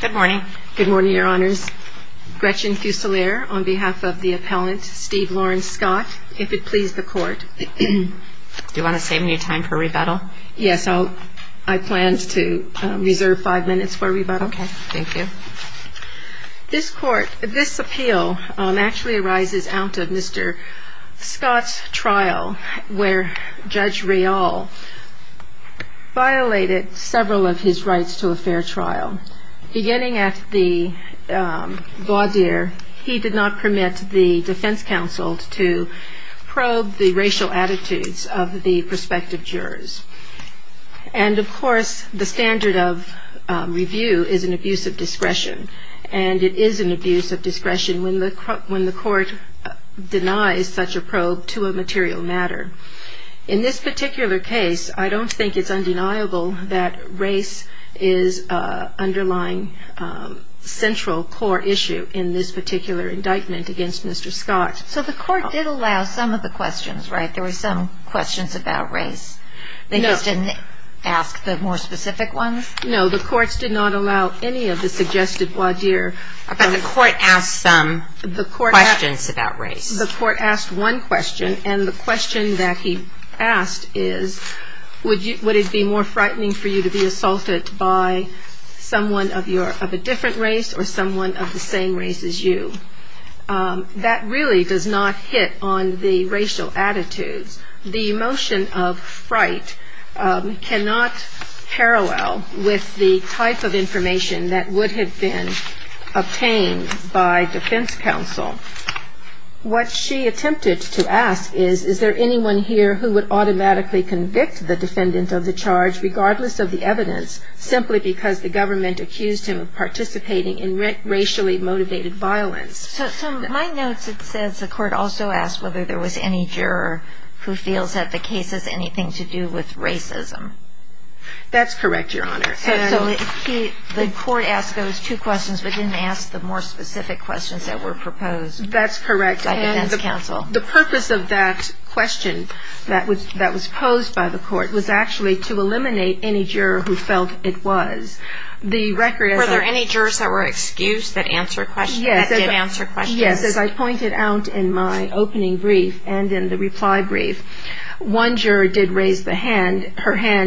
Good morning. Good morning, Your Honors. Gretchen Fuselier on behalf of the appellant Steve Lawrence Scott, if it please the court. Do you want to save any time for rebuttal? Yes, I planned to reserve five minutes for rebuttal. Okay, thank you. This court, this appeal actually arises out of Mr. Scott's trial where Judge Riall violated several of his rights to a fair trial. Beginning at the voir dire, he did not permit the defense counsel to probe the racial attitudes of the prospective jurors. And of course the standard of review is an abuse of discretion and it is an abuse of discretion when the when the court denies such a probe to a material matter. In this particular case, I don't think it's undeniable that race is underlying central core issue in this particular indictment against Mr. Scott. So the court did allow some of the questions, right? There were some questions about race. They just didn't ask the more specific ones? No, the courts did not allow any of the suggested voir dire. But the court asked some questions about race? The court asked one question and the question that he asked is would you would it be more frightening for you to be assaulted by someone of your of a different race or someone of the same race as you? That really does not hit on the racial attitudes. The emotion of fright cannot parallel with the type of information that would have been obtained by defense counsel. What she attempted to ask is, is there anyone here who would automatically convict the defendant of the charge regardless of the evidence simply because the government accused him of participating in racially motivated violence? So my notes it says the court also asked whether there was any juror who feels that the case has anything to do with race. The court asked those two questions but didn't ask the more specific questions that were proposed. That's correct. By defense counsel. The purpose of that question that was posed by the court was actually to eliminate any juror who felt it was. Were there any jurors that were excused that did answer questions? Yes. As I pointed out in my opening brief and in the reply brief, one juror did raise her hand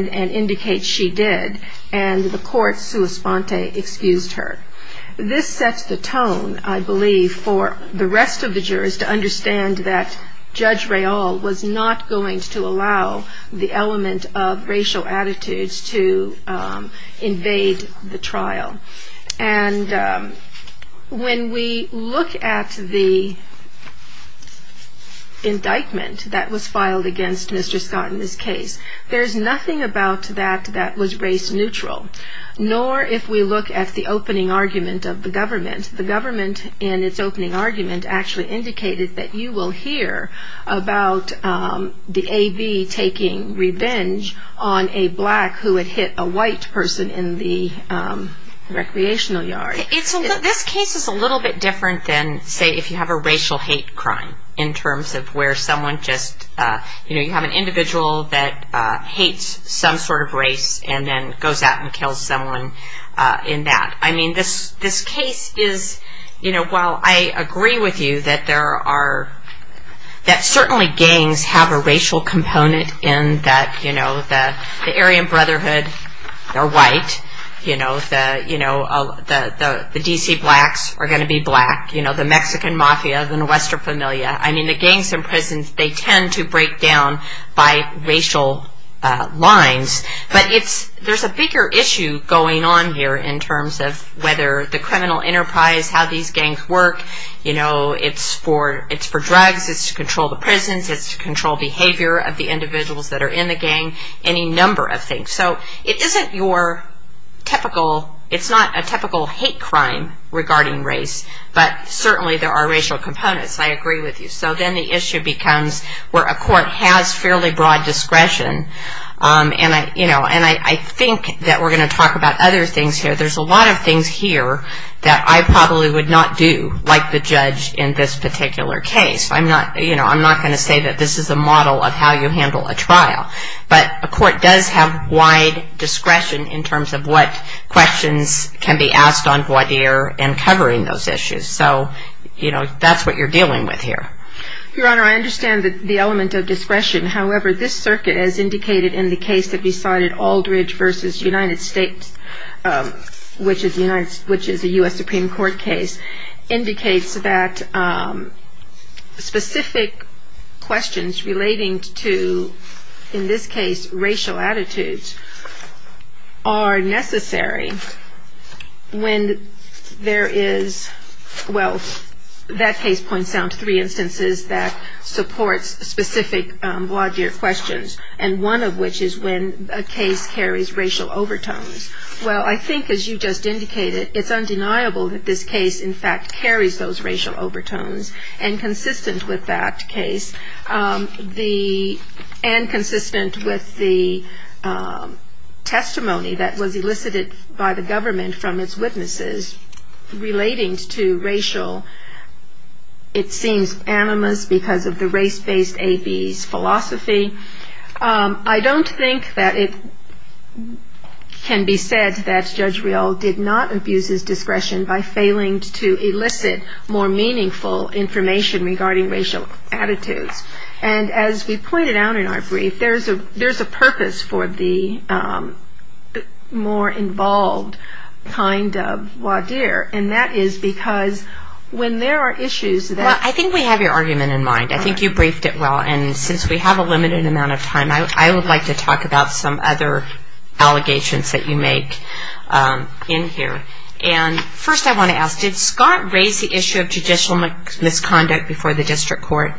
and indicate she did. And the court sua sponte, excused her. This sets the tone, I believe, for the rest of the jurors to understand that Judge Rayall was not going to allow the element of racial attitudes to invade the trial. And when we look at the indictment that was filed against Mr. Scott in this case, there's nothing about that that was race neutral. Nor if we look at the opening argument of the government. The government in its opening argument actually indicated that you will hear about the AV taking revenge on a black who had hit a white person in the recreational yard. This case is a little bit different than, say, if you have a racial hate crime in terms of where someone just, you know, you have an goes out and kills someone in that. I mean, this case is, you know, while I agree with you that there are, that certainly gangs have a racial component in that, you know, the Aryan Brotherhood are white. You know, the D.C. blacks are going to be black. You know, the Mexican Mafia, the Nuestra Familia. I mean, they tend to break down by racial lines. But it's, there's a bigger issue going on here in terms of whether the criminal enterprise, how these gangs work. You know, it's for drugs. It's to control the prisons. It's to control behavior of the individuals that are in the gang. Any number of things. So it isn't your typical, it's not a typical hate crime regarding race. But certainly there are racial components. I agree with you. So then the issue becomes where a court has fairly broad discretion. And I, you know, and I think that we're going to talk about other things here. There's a lot of things here that I probably would not do like the judge in this particular case. I'm not, you know, I'm not going to say that this is a model of how you handle a trial. But a court does have wide discretion in terms of what questions can be asked on voir dire and covering those Your Honor, I understand the element of discretion. However, this circuit as indicated in the case that we cited, Aldridge v. United States, which is a U.S. Supreme Court case, indicates that specific questions relating to, in this case, racial attitudes are necessary when there is, well, that case points down to three instances that supports specific voir dire questions. And one of which is when a case carries racial overtones. Well, I think as you just indicated, it's undeniable that this case, in fact, carries those racial overtones. And consistent with that case, the, and consistent with the testimony that was elicited by the government from its witnesses relating to racial, it seems, animus because of the race-based A-B's philosophy. I don't think that it can be said that Judge Rial did not abuse his discretion by failing to elicit more meaningful information regarding racial attitudes. And as we pointed out in our brief, there's a And that is because when there are issues that Well, I think we have your argument in mind. I think you briefed it well. And since we have a limited amount of time, I would like to talk about some other allegations that you make in here. And first I want to ask, did Scott raise the issue of judicial misconduct before the district court?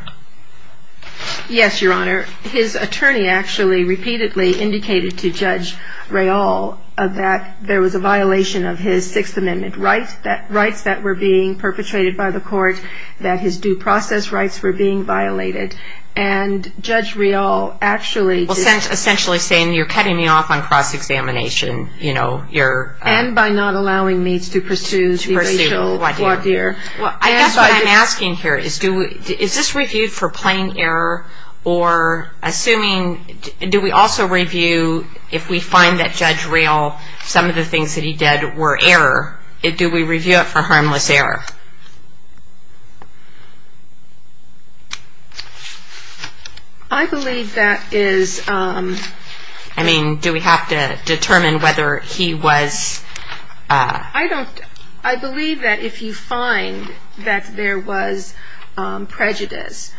Yes, Your Honor. His attorney actually repeatedly indicated to Judge Rial that there was a violation of his Sixth Amendment rights, rights that were being perpetrated by the court, that his due process rights were being violated. And Judge Rial actually Well, essentially saying you're cutting me off on cross-examination, you know, you're And by not allowing me to pursue To pursue. Well, I guess what I'm asking here is, is this reviewed for Judge Rial, some of the things that he did were error. Do we review it for harmless error? I believe that is I mean, do we have to determine whether he was I don't, I believe that if you find that there was prejudice,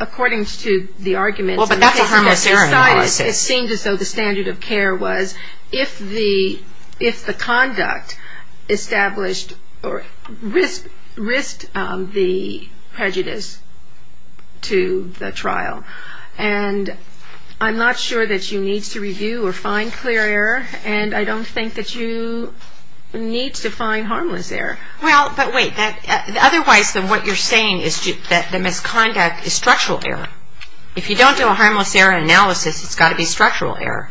according to the argument Well, but that's a harmless error in the law, I say It seemed as though the standard of care was if the, if the conduct established, or risked the prejudice to the trial. And I'm not sure that you need to review or find clear error, and I don't think that you need to find harmless error. Well, but wait, otherwise what you're saying is that the misconduct is structural error. If you don't do a harmless error analysis, it's got to be structural error.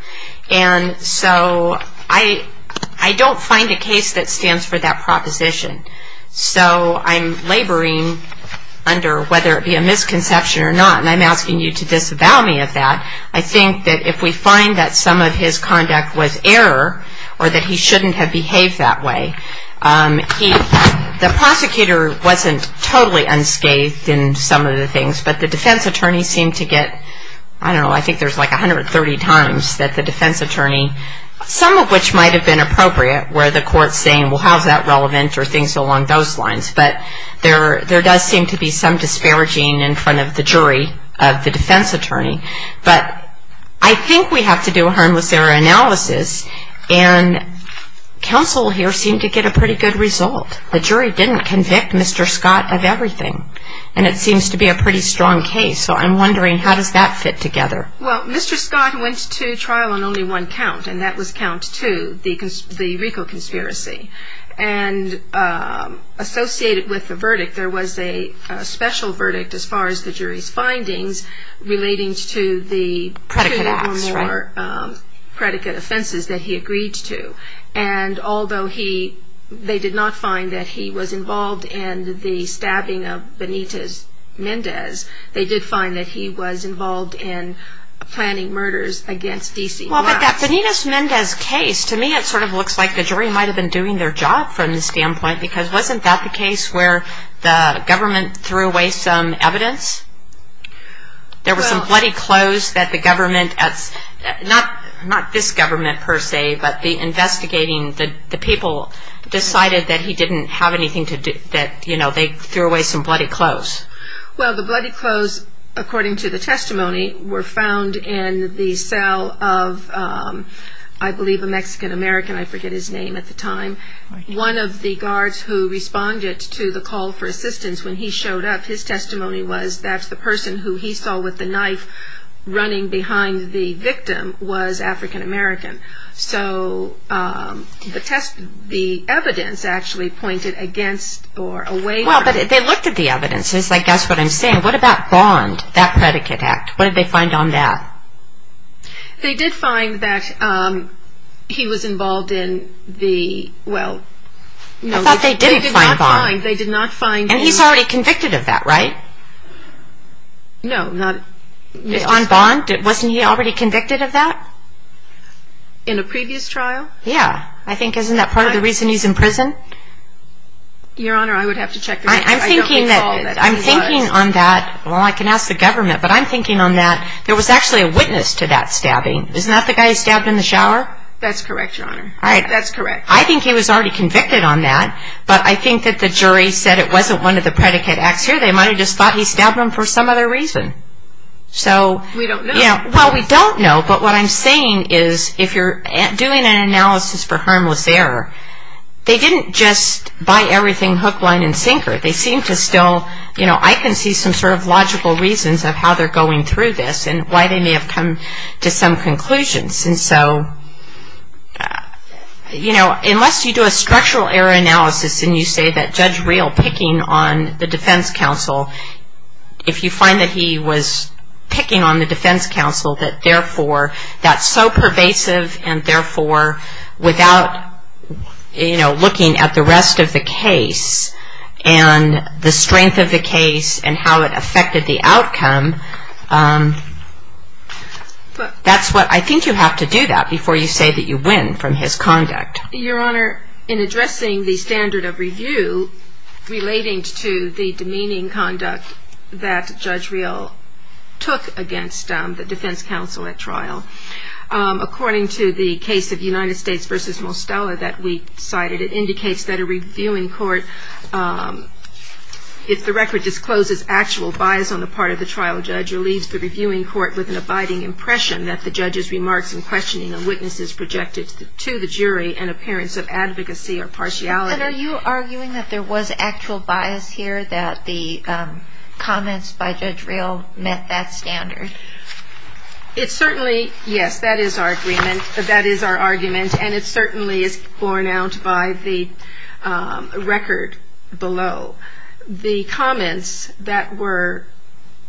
And so I, I don't find a case that stands for that proposition. So I'm laboring under whether it be a misconception or not, and I'm asking you to disavow me of that. I think that if we find that some of his conduct was error, or that he shouldn't have behaved that way, he The prosecutor wasn't totally unscathed in some of the things, but the defense attorney, some of which might have been appropriate, where the court's saying, well, how's that relevant, or things along those lines. But there, there does seem to be some disparaging in front of the jury of the defense attorney. But I think we have to do a harmless error analysis, and counsel here seemed to get a pretty good result. The jury didn't convict Mr. Scott of everything, and it seems to be a pretty strong case. So I'm wondering, how does that fit together? Well, Mr. Scott went to trial on only one count, and that was count two, the, the Rico conspiracy. And associated with the verdict, there was a special verdict as far as the jury's findings relating to the two or more predicate offenses that he agreed to. And although he, they did not find that he was involved in the stabbing of Benitez Mendez, they did find that he was involved in planning murders against D.C. Well, but that Benitez Mendez case, to me it sort of looks like the jury might have been doing their job from the standpoint, because wasn't that the case where the government threw away some evidence? There was some bloody clothes that the government, not, not this government per se, but the investigating, the, the people decided that he didn't have anything to do, that, you know, they threw away some bloody clothes. Well, the bloody clothes, according to the testimony, were found in the cell of, I believe, a Mexican-American, I forget his name at the time. One of the guards who responded to the call for assistance when he showed up, his testimony was that the person who he saw with the knife running behind the victim was African-American. So the test, the evidence actually pointed against or away from him. Well, but they looked at the evidence. It's like, guess what I'm saying. What about Bond, that predicate act? What did they find on that? They did find that he was involved in the, well, no. I thought they didn't find Bond. They did not find him. And he's already convicted of that, right? No, not. On Bond, wasn't he already convicted of that? In a previous trial? Yeah. I think, isn't that part of the reason he's in prison? Your Honor, I would have to check the record. I don't recall that he was. I'm thinking on that, well, I can ask the government, but I'm thinking on that, there was actually a witness to that stabbing. Isn't that the guy who stabbed him in the shower? That's correct, Your Honor. All right. That's correct. I think he was already convicted on that, but I think that the jury said it wasn't one of the predicate acts here. They might have just thought he stabbed him for some other reason. So. We don't know. Well, we don't know, but what I'm saying is, if you're doing an analysis for harmless error, they didn't just buy everything hook, line, and sinker. They seem to still, you know, I can see some sort of logical reasons of how they're going through this and why they may have come to some conclusions. And so, you know, unless you do a structural error analysis and you say that Judge Real picking on the defense counsel, if you find that he was picking on the defense counsel, that therefore that's so pervasive and therefore without, you know, looking at the rest of the case and the strength of the case and how it affected the outcome, that's what I think you have to do that before you say that you win from his conduct. Your Honor, in addressing the standard of review relating to the demeaning conduct that Judge Real took against the defense counsel at trial, according to the case of United States versus Mostella that we cited, it indicates that a reviewing court, if the record discloses actual bias on the part of the trial judge, relieves the reviewing court with an abiding impression that the judge's remarks and questioning of witnesses projected to the jury an appearance of advocacy or partiality. And are you arguing that there was actual bias here, that the comments by Judge Real met that standard? It certainly, yes. That is our argument, and it certainly is borne out by the record below. The comments that were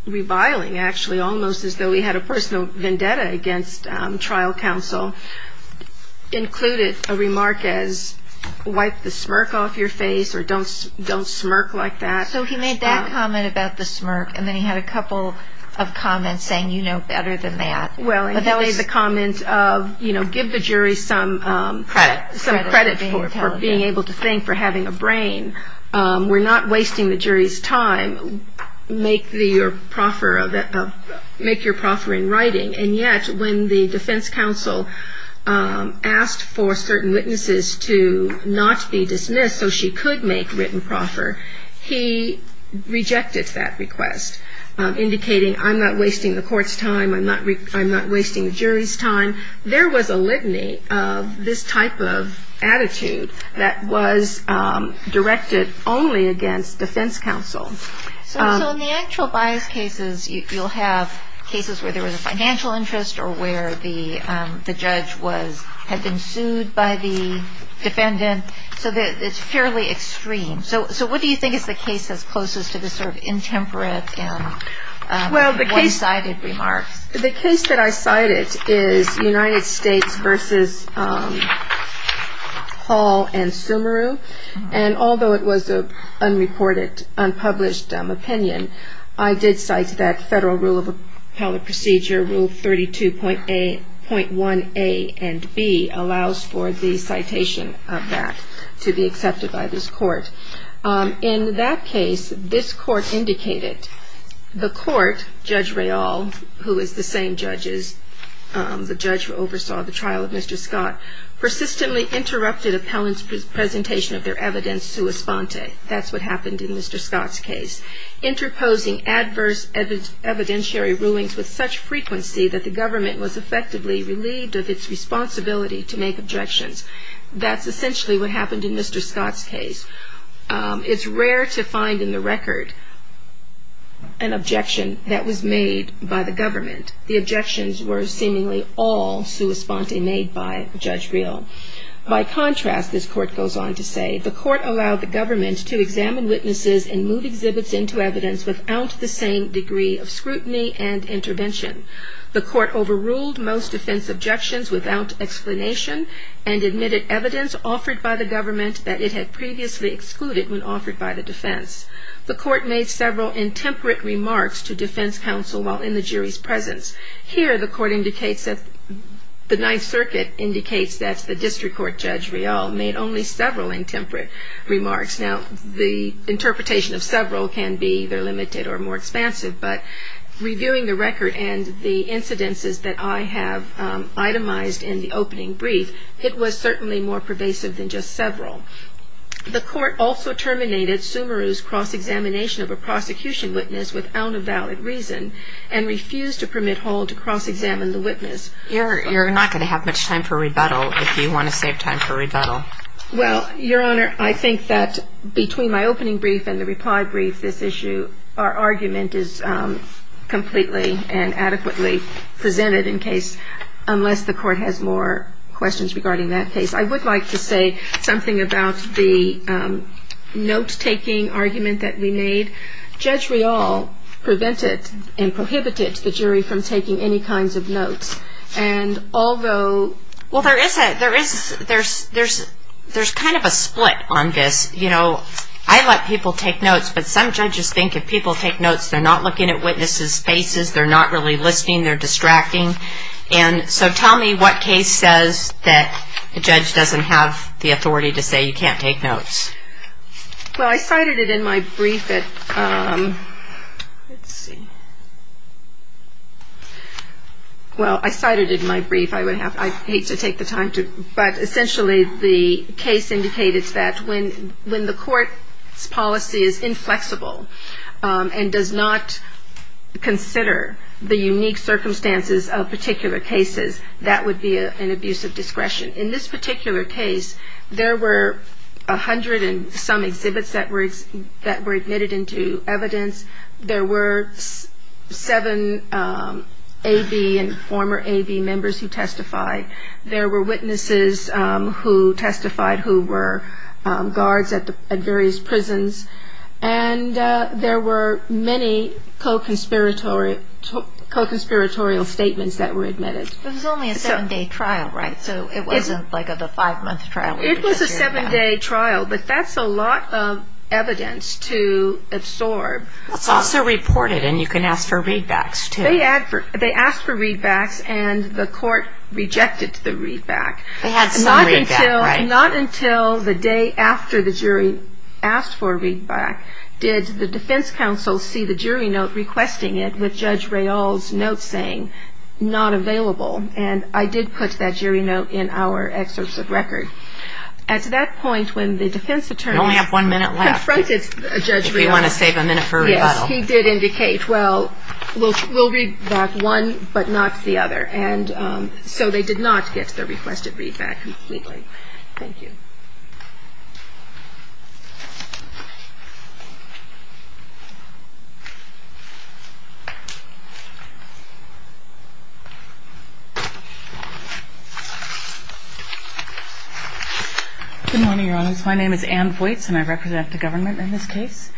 reviling, actually, almost as though he had a personal vendetta against trial counsel, included a remark as, wipe the smirk off your face or don't smirk like that. So he made that comment about the smirk, and then he had a couple of comments saying, you know better than that. Well, he made the comment of, you know, give the jury some credit for being able to think, for having a brain. We're not wasting the jury's time. Make your proffer in writing. And yet, when the defense counsel asked for certain witnesses to not be dismissed so she could make written proffer, he rejected that request, indicating, I'm not wasting the court's time, I'm not wasting the jury's time. There was a litany of this type of attitude that was directed only against defense counsel. So in the actual bias cases, you'll have cases where there was a financial interest or where the judge had been sued by the defendant. So it's fairly extreme. So what do you think is the case that's closest to this sort of intemperate and one-sided remarks? The case that I cited is United States versus Hall and Sumeru. And although it was an unreported, unpublished opinion, I did cite that federal rule of appellate procedure, Rule 32.1a and b, allows for the In that case, this court indicated the court, Judge Rayall, who is the same judge as the judge who oversaw the trial of Mr. Scott, persistently interrupted appellant's presentation of their evidence sua sponte. That's what happened in Mr. Scott's case. Interposing adverse evidentiary rulings with such frequency that the government was effectively relieved of its responsibility to make objections. That's essentially what happened in Mr. Scott's case. It's rare to find in the record an objection that was made by the government. The objections were seemingly all sua sponte made by Judge Rayall. By contrast, this court goes on to say, the court allowed the government to examine witnesses and move exhibits into evidence without the same degree of scrutiny and intervention. The court overruled most defense objections without explanation and admitted evidence offered by the government that it had previously excluded when offered by the defense. The court made several intemperate remarks to defense counsel while in the jury's presence. Here, the court indicates that the Ninth Circuit indicates that the District Court Judge Rayall made only several intemperate remarks. Now, the interpretation of several can be either limited or more expansive, but reviewing the record and the incidences that I have itemized in the case is certainly more pervasive than just several. The court also terminated Sumeru's cross-examination of a prosecution witness without a valid reason and refused to permit Hall to cross-examine the witness. You're not going to have much time for rebuttal if you want to save time for rebuttal. Well, Your Honor, I think that between my opening brief and the reply brief, this issue, our argument is completely and adequately presented in case, unless the court has more questions regarding that case. I would like to say something about the note-taking argument that we made. Judge Rayall prevented and prohibited the jury from taking any kinds of notes, and although... Well, there is a, there is, there's, there's, there's kind of a split on this. You know, I let people take notes, but some judges think if people take notes, they're not looking at witnesses' faces, they're not really listening, they're distracting, and so tell me what case says that a judge doesn't have the authority to say you can't take notes. Well, I cited it in my brief at, let's see, well, I cited it in my brief. I would have, I hate to take the time to, but essentially the case indicated that when, when the court's policy is inflexible and does not consider the unique circumstances of particular cases, that would be an abuse of discretion. In this particular case, there were a hundred and some exhibits that were, that were admitted into evidence. There were seven A.B. and former A.B. members who testified. There were witnesses who testified who were guards at the, at various prisons, and there were many co-conspiratorial, co-conspiratorial statements that were admitted. But it was only a seven-day trial, right? So it wasn't like a five-month trial. It was a seven-day trial, but that's a lot of evidence to absorb. It's also reported, and you can ask for readbacks, too. They asked for readbacks, and the court rejected the readback. They had some readback, right? And not until the day after the jury asked for a readback did the defense counsel see the jury note requesting it with Judge Rayall's note saying, not available. And I did put that jury note in our excerpts of record. At that point, when the defense attorney confronted Judge Rayall, he did indicate, well, we'll, we'll read back one, but not the other. And so they did not get the requested readback completely. Thank you. Good morning, Your Honor. My name is Ann Voights, and I represent the government in this case.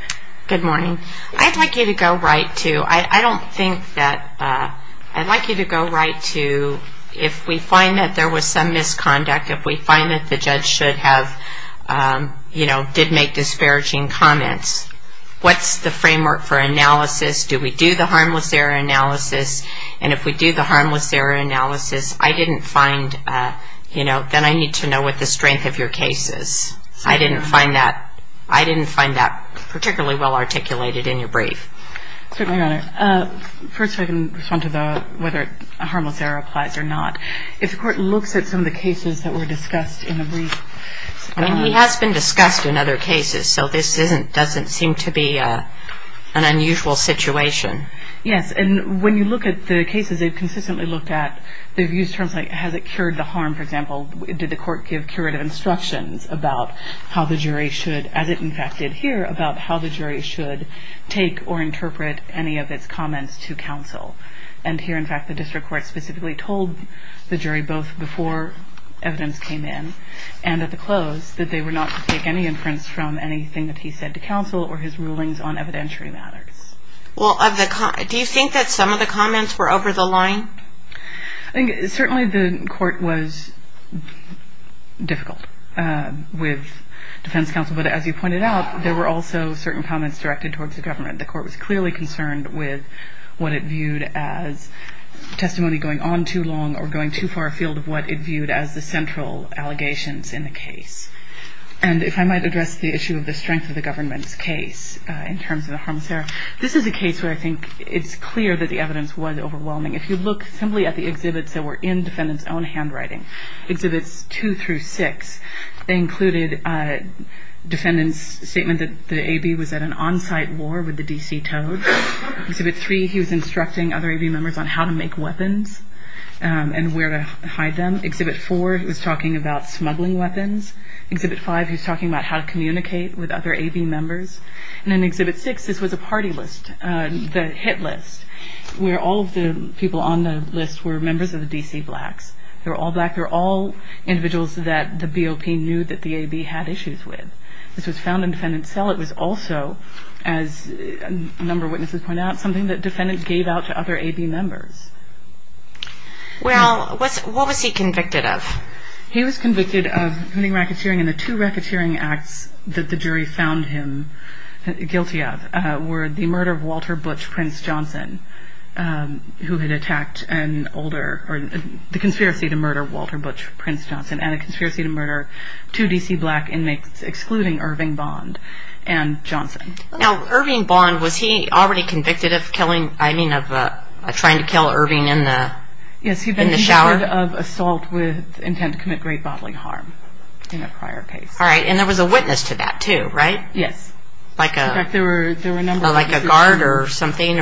Good morning. I'd like you to go right to, I don't think that, I'd like you to go right to, if we find that there was some misconduct, if we find that the judge should have, you know, did make disparaging comments, what's the framework for analysis? Do we do the harmless error analysis? And if we do the harmless error analysis, I didn't find, you know, then I need to know what the strength of your case is. I didn't find that, I didn't find that particularly well articulated in your brief. Certainly, Your Honor. First, if I can respond to the, whether a harmless error applies or not. If the court looks at some of the cases that were discussed in the brief. I mean, he has been discussed in other cases, so this isn't, doesn't seem to be an unusual situation. Yes. And when you look at the cases they've consistently looked at, they've used terms like, has it cured the harm, for example, did the court give curative instructions about how the jury should, as it in fact did here, about how the jury should take comments to counsel. And here, in fact, the district court specifically told the jury, both before evidence came in and at the close, that they were not to take any inference from anything that he said to counsel or his rulings on evidentiary matters. Well, of the, do you think that some of the comments were over the line? I think certainly the court was difficult with defense counsel, but as you pointed out, there were also certain comments directed towards the government. The court was clearly concerned with what it viewed as testimony going on too long or going too far afield of what it viewed as the central allegations in the case. And if I might address the issue of the strength of the government's case in terms of the harmless error, this is a case where I think it's clear that the evidence was overwhelming. If you look simply at the exhibits that were in defendant's own handwriting, exhibits two through six, they included defendant's statement that the AB was at an on-site war with the D.C. Toads. Exhibit three, he was instructing other AB members on how to make weapons and where to hide them. Exhibit four, he was talking about smuggling weapons. Exhibit five, he was talking about how to communicate with other AB members. And in exhibit six, this was a party list, the hit list, where all of the people on the list were members of the D.C. Blacks. They were all black. They were all individuals that the BOP knew that the AB had issues with. This was found in defendant's cell. It was also, as a number of witnesses point out, something that defendants gave out to other AB members. Well, what was he convicted of? He was convicted of running racketeering, and the two racketeering acts that the jury found him guilty of were the murder of Walter Butch Prince Johnson, who had attacked an older, or the conspiracy to murder Walter Butch Prince Johnson, and a conspiracy to murder two D.C. Black inmates, excluding Irving Bond and Johnson. Now, Irving Bond, was he already convicted of trying to kill Irving in the shower? Yes, he'd been convicted of assault with intent to commit great bodily harm in a prior case. All right, and there was a witness to that, too, right? Yes. Like a guard or something?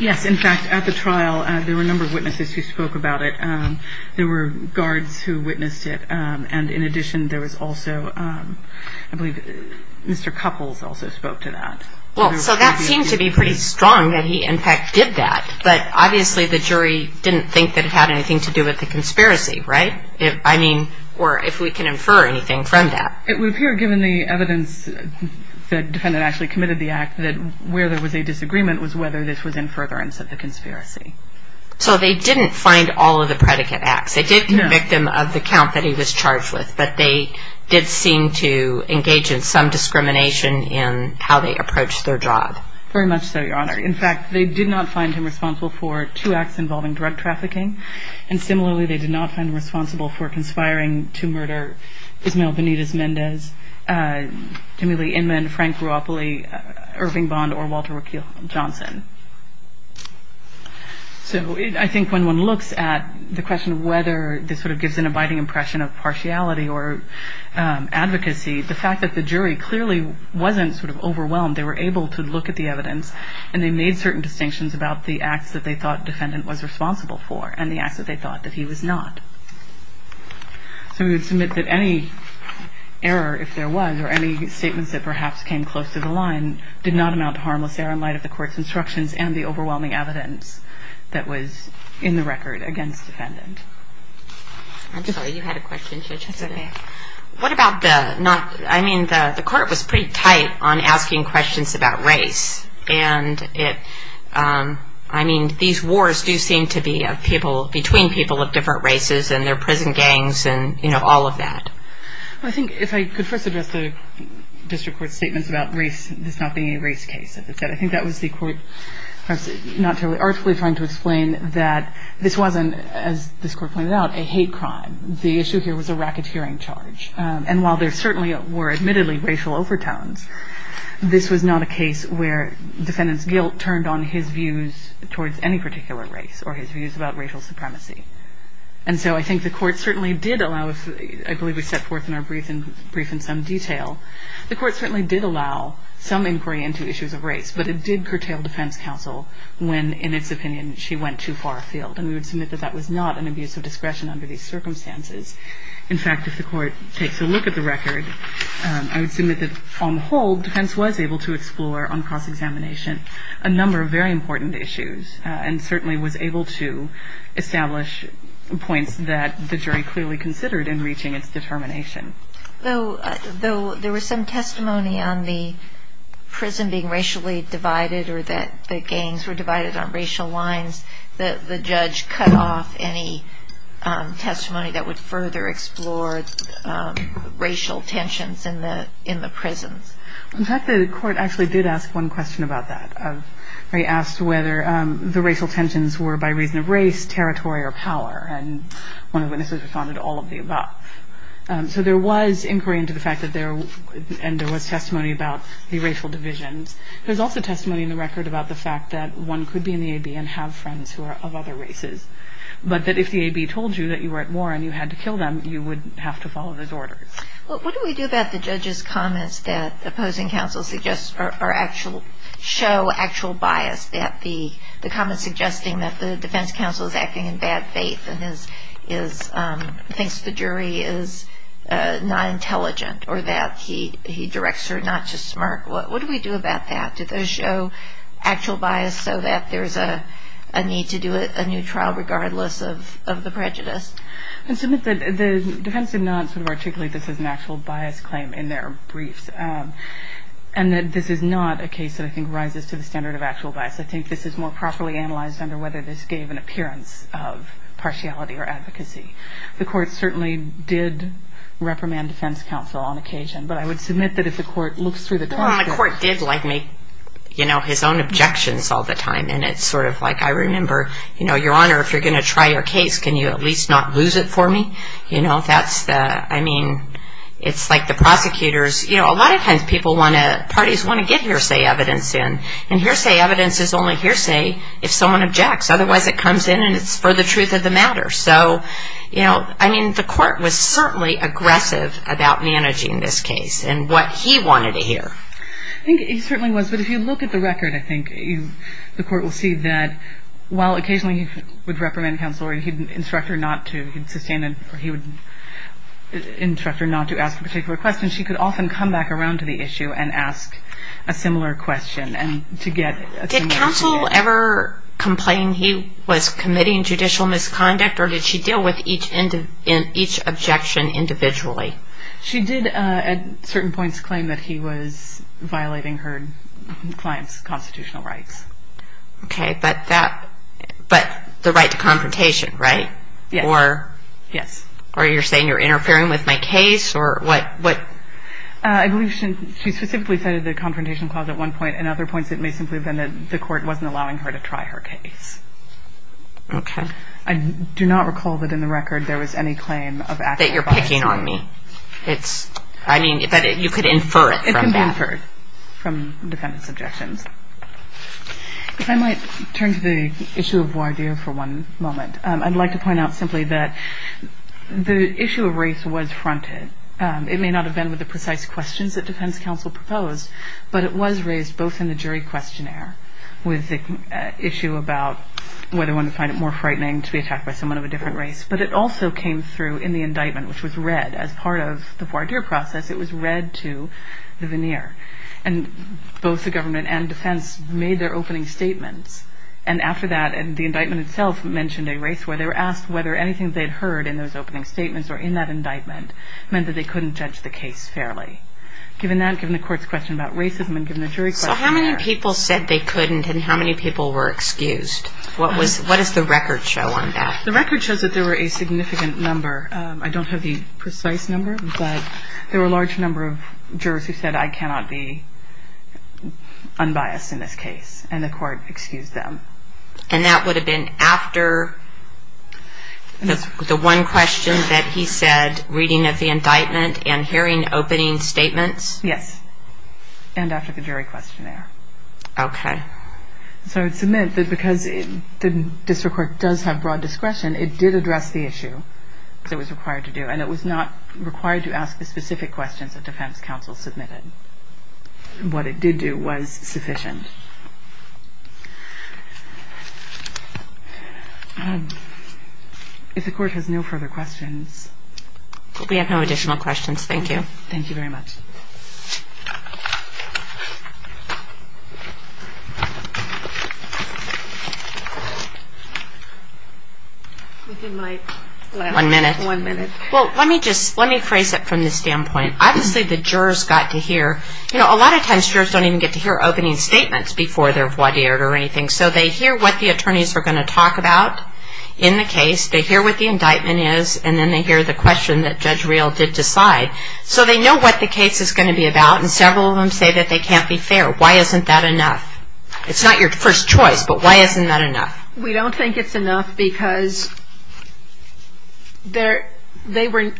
Yes, in fact, at the trial, there were a number of witnesses who spoke about it. There were guards who witnessed it. And in addition, there was also, I believe, Mr. Couples also spoke to that. Well, so that seemed to be pretty strong, that he, in fact, did that. But obviously, the jury didn't think that it had anything to do with the conspiracy, right? I mean, or if we can infer anything from that. It would appear, given the evidence the defendant actually committed the act, that where there was a disagreement was whether this was in furtherance of the conspiracy. So they didn't find all of the predicate acts. They did convict him of the count that he was charged with. But they did seem to engage in some discrimination in how they approached their job. Very much so, Your Honor. In fact, they did not find him responsible for two acts involving drug trafficking. And similarly, they did not find him responsible for conspiring to murder Ismael Benitez-Mendez, Timothy Inman, Frank Ruopoly, Irving Bond, or Walter McKeon Johnson. So I think when one looks at the question of whether this sort of gives an abiding impression of partiality or advocacy, the fact that the jury clearly wasn't sort of overwhelmed. They were able to look at the evidence. And they made certain distinctions about the acts that they thought defendant was responsible for, and the acts that they thought that he was not. So we would submit that any error, if there was, or any statements that perhaps came close to the line did not amount to harmless error in light of the court's instruction and the overwhelming evidence that was in the record against defendant. I'm sorry, you had a question, Judge. What about the not, I mean, the court was pretty tight on asking questions about race. And I mean, these wars do seem to be between people of different races, and they're prison gangs, and all of that. I think if I could first address the district court's statements about race, this not being a race case. I think that was the court, perhaps not totally artfully, trying to explain that this wasn't, as this court pointed out, a hate crime. The issue here was a racketeering charge. And while there certainly were admittedly racial overtones, this was not a case where defendant's guilt turned on his views towards any particular race, or his views about racial supremacy. And so I think the court certainly did allow, I believe we set forth in our brief in some detail, the court certainly did allow some inquiry into issues of race. But it did curtail defense counsel when, in its opinion, she went too far afield. And we would submit that that was not an abuse of discretion under these circumstances. In fact, if the court takes a look at the record, I would submit that, on the whole, defense was able to explore on cross-examination a number of very important issues, and certainly was able to establish points that the jury clearly considered in reaching its determination. Though there was some testimony on the prison being racially divided, or that the gangs were divided on racial lines, the judge cut off any testimony that would further explore racial tensions in the prisons. In fact, the court actually did ask one question about that. They asked whether the racial tensions were by reason of race, territory, or power. And one of the witnesses responded, all of the above. So there was inquiry into the fact that there, and there was testimony about the racial divisions. There's also testimony in the record about the fact that one could be in the A.B. and have friends who are of other races. But that if the A.B. told you that you were at war and you had to kill them, you would have to follow those orders. Well, what do we do about the judge's comments that opposing counsel suggests, or actual, show actual bias? That the comments suggesting that the defense counsel is acting in bad faith, and thinks the jury is not intelligent, or that he directs her not to smirk. What do we do about that? Do those show actual bias so that there's a need to do a new trial regardless of the prejudice? The defense did not articulate this as an actual bias claim in their briefs. And that this is not a case that I think rises to the standard of actual bias. I think this is more properly analyzed under whether this gave an appearance of partiality or advocacy. The court certainly did reprimand defense counsel on occasion. But I would submit that if the court looks through the transcript. Well, the court did, like, make, you know, his own objections all the time. And it's sort of like, I remember, you know, Your Honor, if you're going to try your case, can you at least not lose it for me? You know, that's the, I mean, it's like the prosecutors. You know, a lot of times people want to, parties want to get hearsay evidence in. And hearsay evidence is only hearsay if someone objects. Otherwise, it comes in and it's for the truth of the matter. So, you know, I mean, the court was certainly aggressive about managing this case and what he wanted to hear. I think he certainly was. But if you look at the record, I think the court will see that while occasionally he would reprimand counsel or he'd instruct her not to, he'd sustain, or he would instruct her not to ask a particular question. She could often come back around to the issue and ask a similar question. Did counsel ever complain he was committing judicial misconduct? Or did she deal with each objection individually? She did, at certain points, claim that he was violating her client's constitutional rights. Okay, but that, but the right to confrontation, right? Yes. Or you're saying you're interfering with my case or what? I believe she specifically cited the confrontation clause at one point. And other points, it may simply have been that the court wasn't allowing her to try her case. Okay. I do not recall that in the record there was any claim of active violence. That you're picking on me. It's, I mean, that you could infer it from that. It can be inferred from defendant's objections. If I might turn to the issue of voir dire for one moment. I'd like to point out simply that the issue of race was fronted. It may not have been with the precise questions that defense counsel proposed. But it was raised both in the jury questionnaire with the issue about whether one would find it more frightening to be attacked by someone of a different race. But it also came through in the indictment, which was read as part of the voir dire process. It was read to the veneer. And both the government and defense made their opening statements. And after that, and the indictment itself mentioned a race where they were asked whether anything they'd heard in those opening statements or in that indictment meant that they couldn't judge the case fairly. Given that, given the court's question about racism and given the jury questionnaire. So how many people said they couldn't and how many people were excused? What was, what does the record show on that? The record shows that there were a significant number. I don't have the precise number, but there were a large number of jurors who said, I cannot be unbiased in this case. And the court excused them. And that would have been after the one question that he said, reading of the indictment and hearing opening statements? Yes. And after the jury questionnaire. Okay. So it's meant that because the district court does have broad discretion, it did address the issue that was required to do. And it was not required to ask the specific questions that defense counsel submitted. What it did do was sufficient. If the court has no further questions. We have no additional questions. Thank you. Thank you very much. Within my last one minute. Well, let me just, let me phrase it from this standpoint. Obviously the jurors got to hear, you know, a lot of times jurors don't even get to hear opening statements before they're vaudeered or anything. So they hear what the attorneys are going to talk about in the case. They hear what the indictment is. And then they hear the question that Judge Reel did decide. So they know what the case is going to be about. And several of them say that they can't be fair. Why isn't that enough? It's not your first choice, but why isn't that enough? We don't think it's enough because there, they were,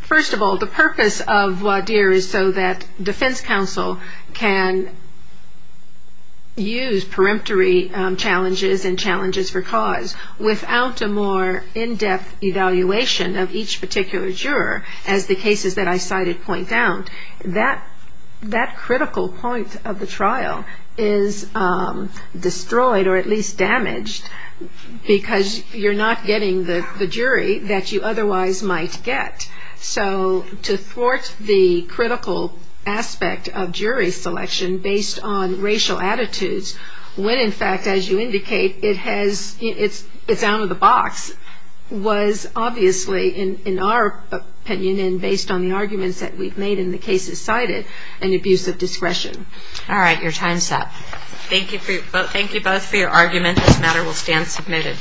first of all, the purpose of vaudeer is so that defense counsel can use peremptory challenges and challenges for cause without a more in-depth evaluation of each particular juror. As the cases that I cited point out that, that critical point of the trial is destroyed or at least damaged because you're not getting the jury that you otherwise might get. So to thwart the critical aspect of jury selection based on racial attitudes, when in fact, as you indicate, it has, it's, it's out of the box was obviously in our opinion and based on the arguments that we've made in the cases cited an abuse of discretion. All right. Your time's up. Thank you. Thank you both for your argument. This matter will stand submitted.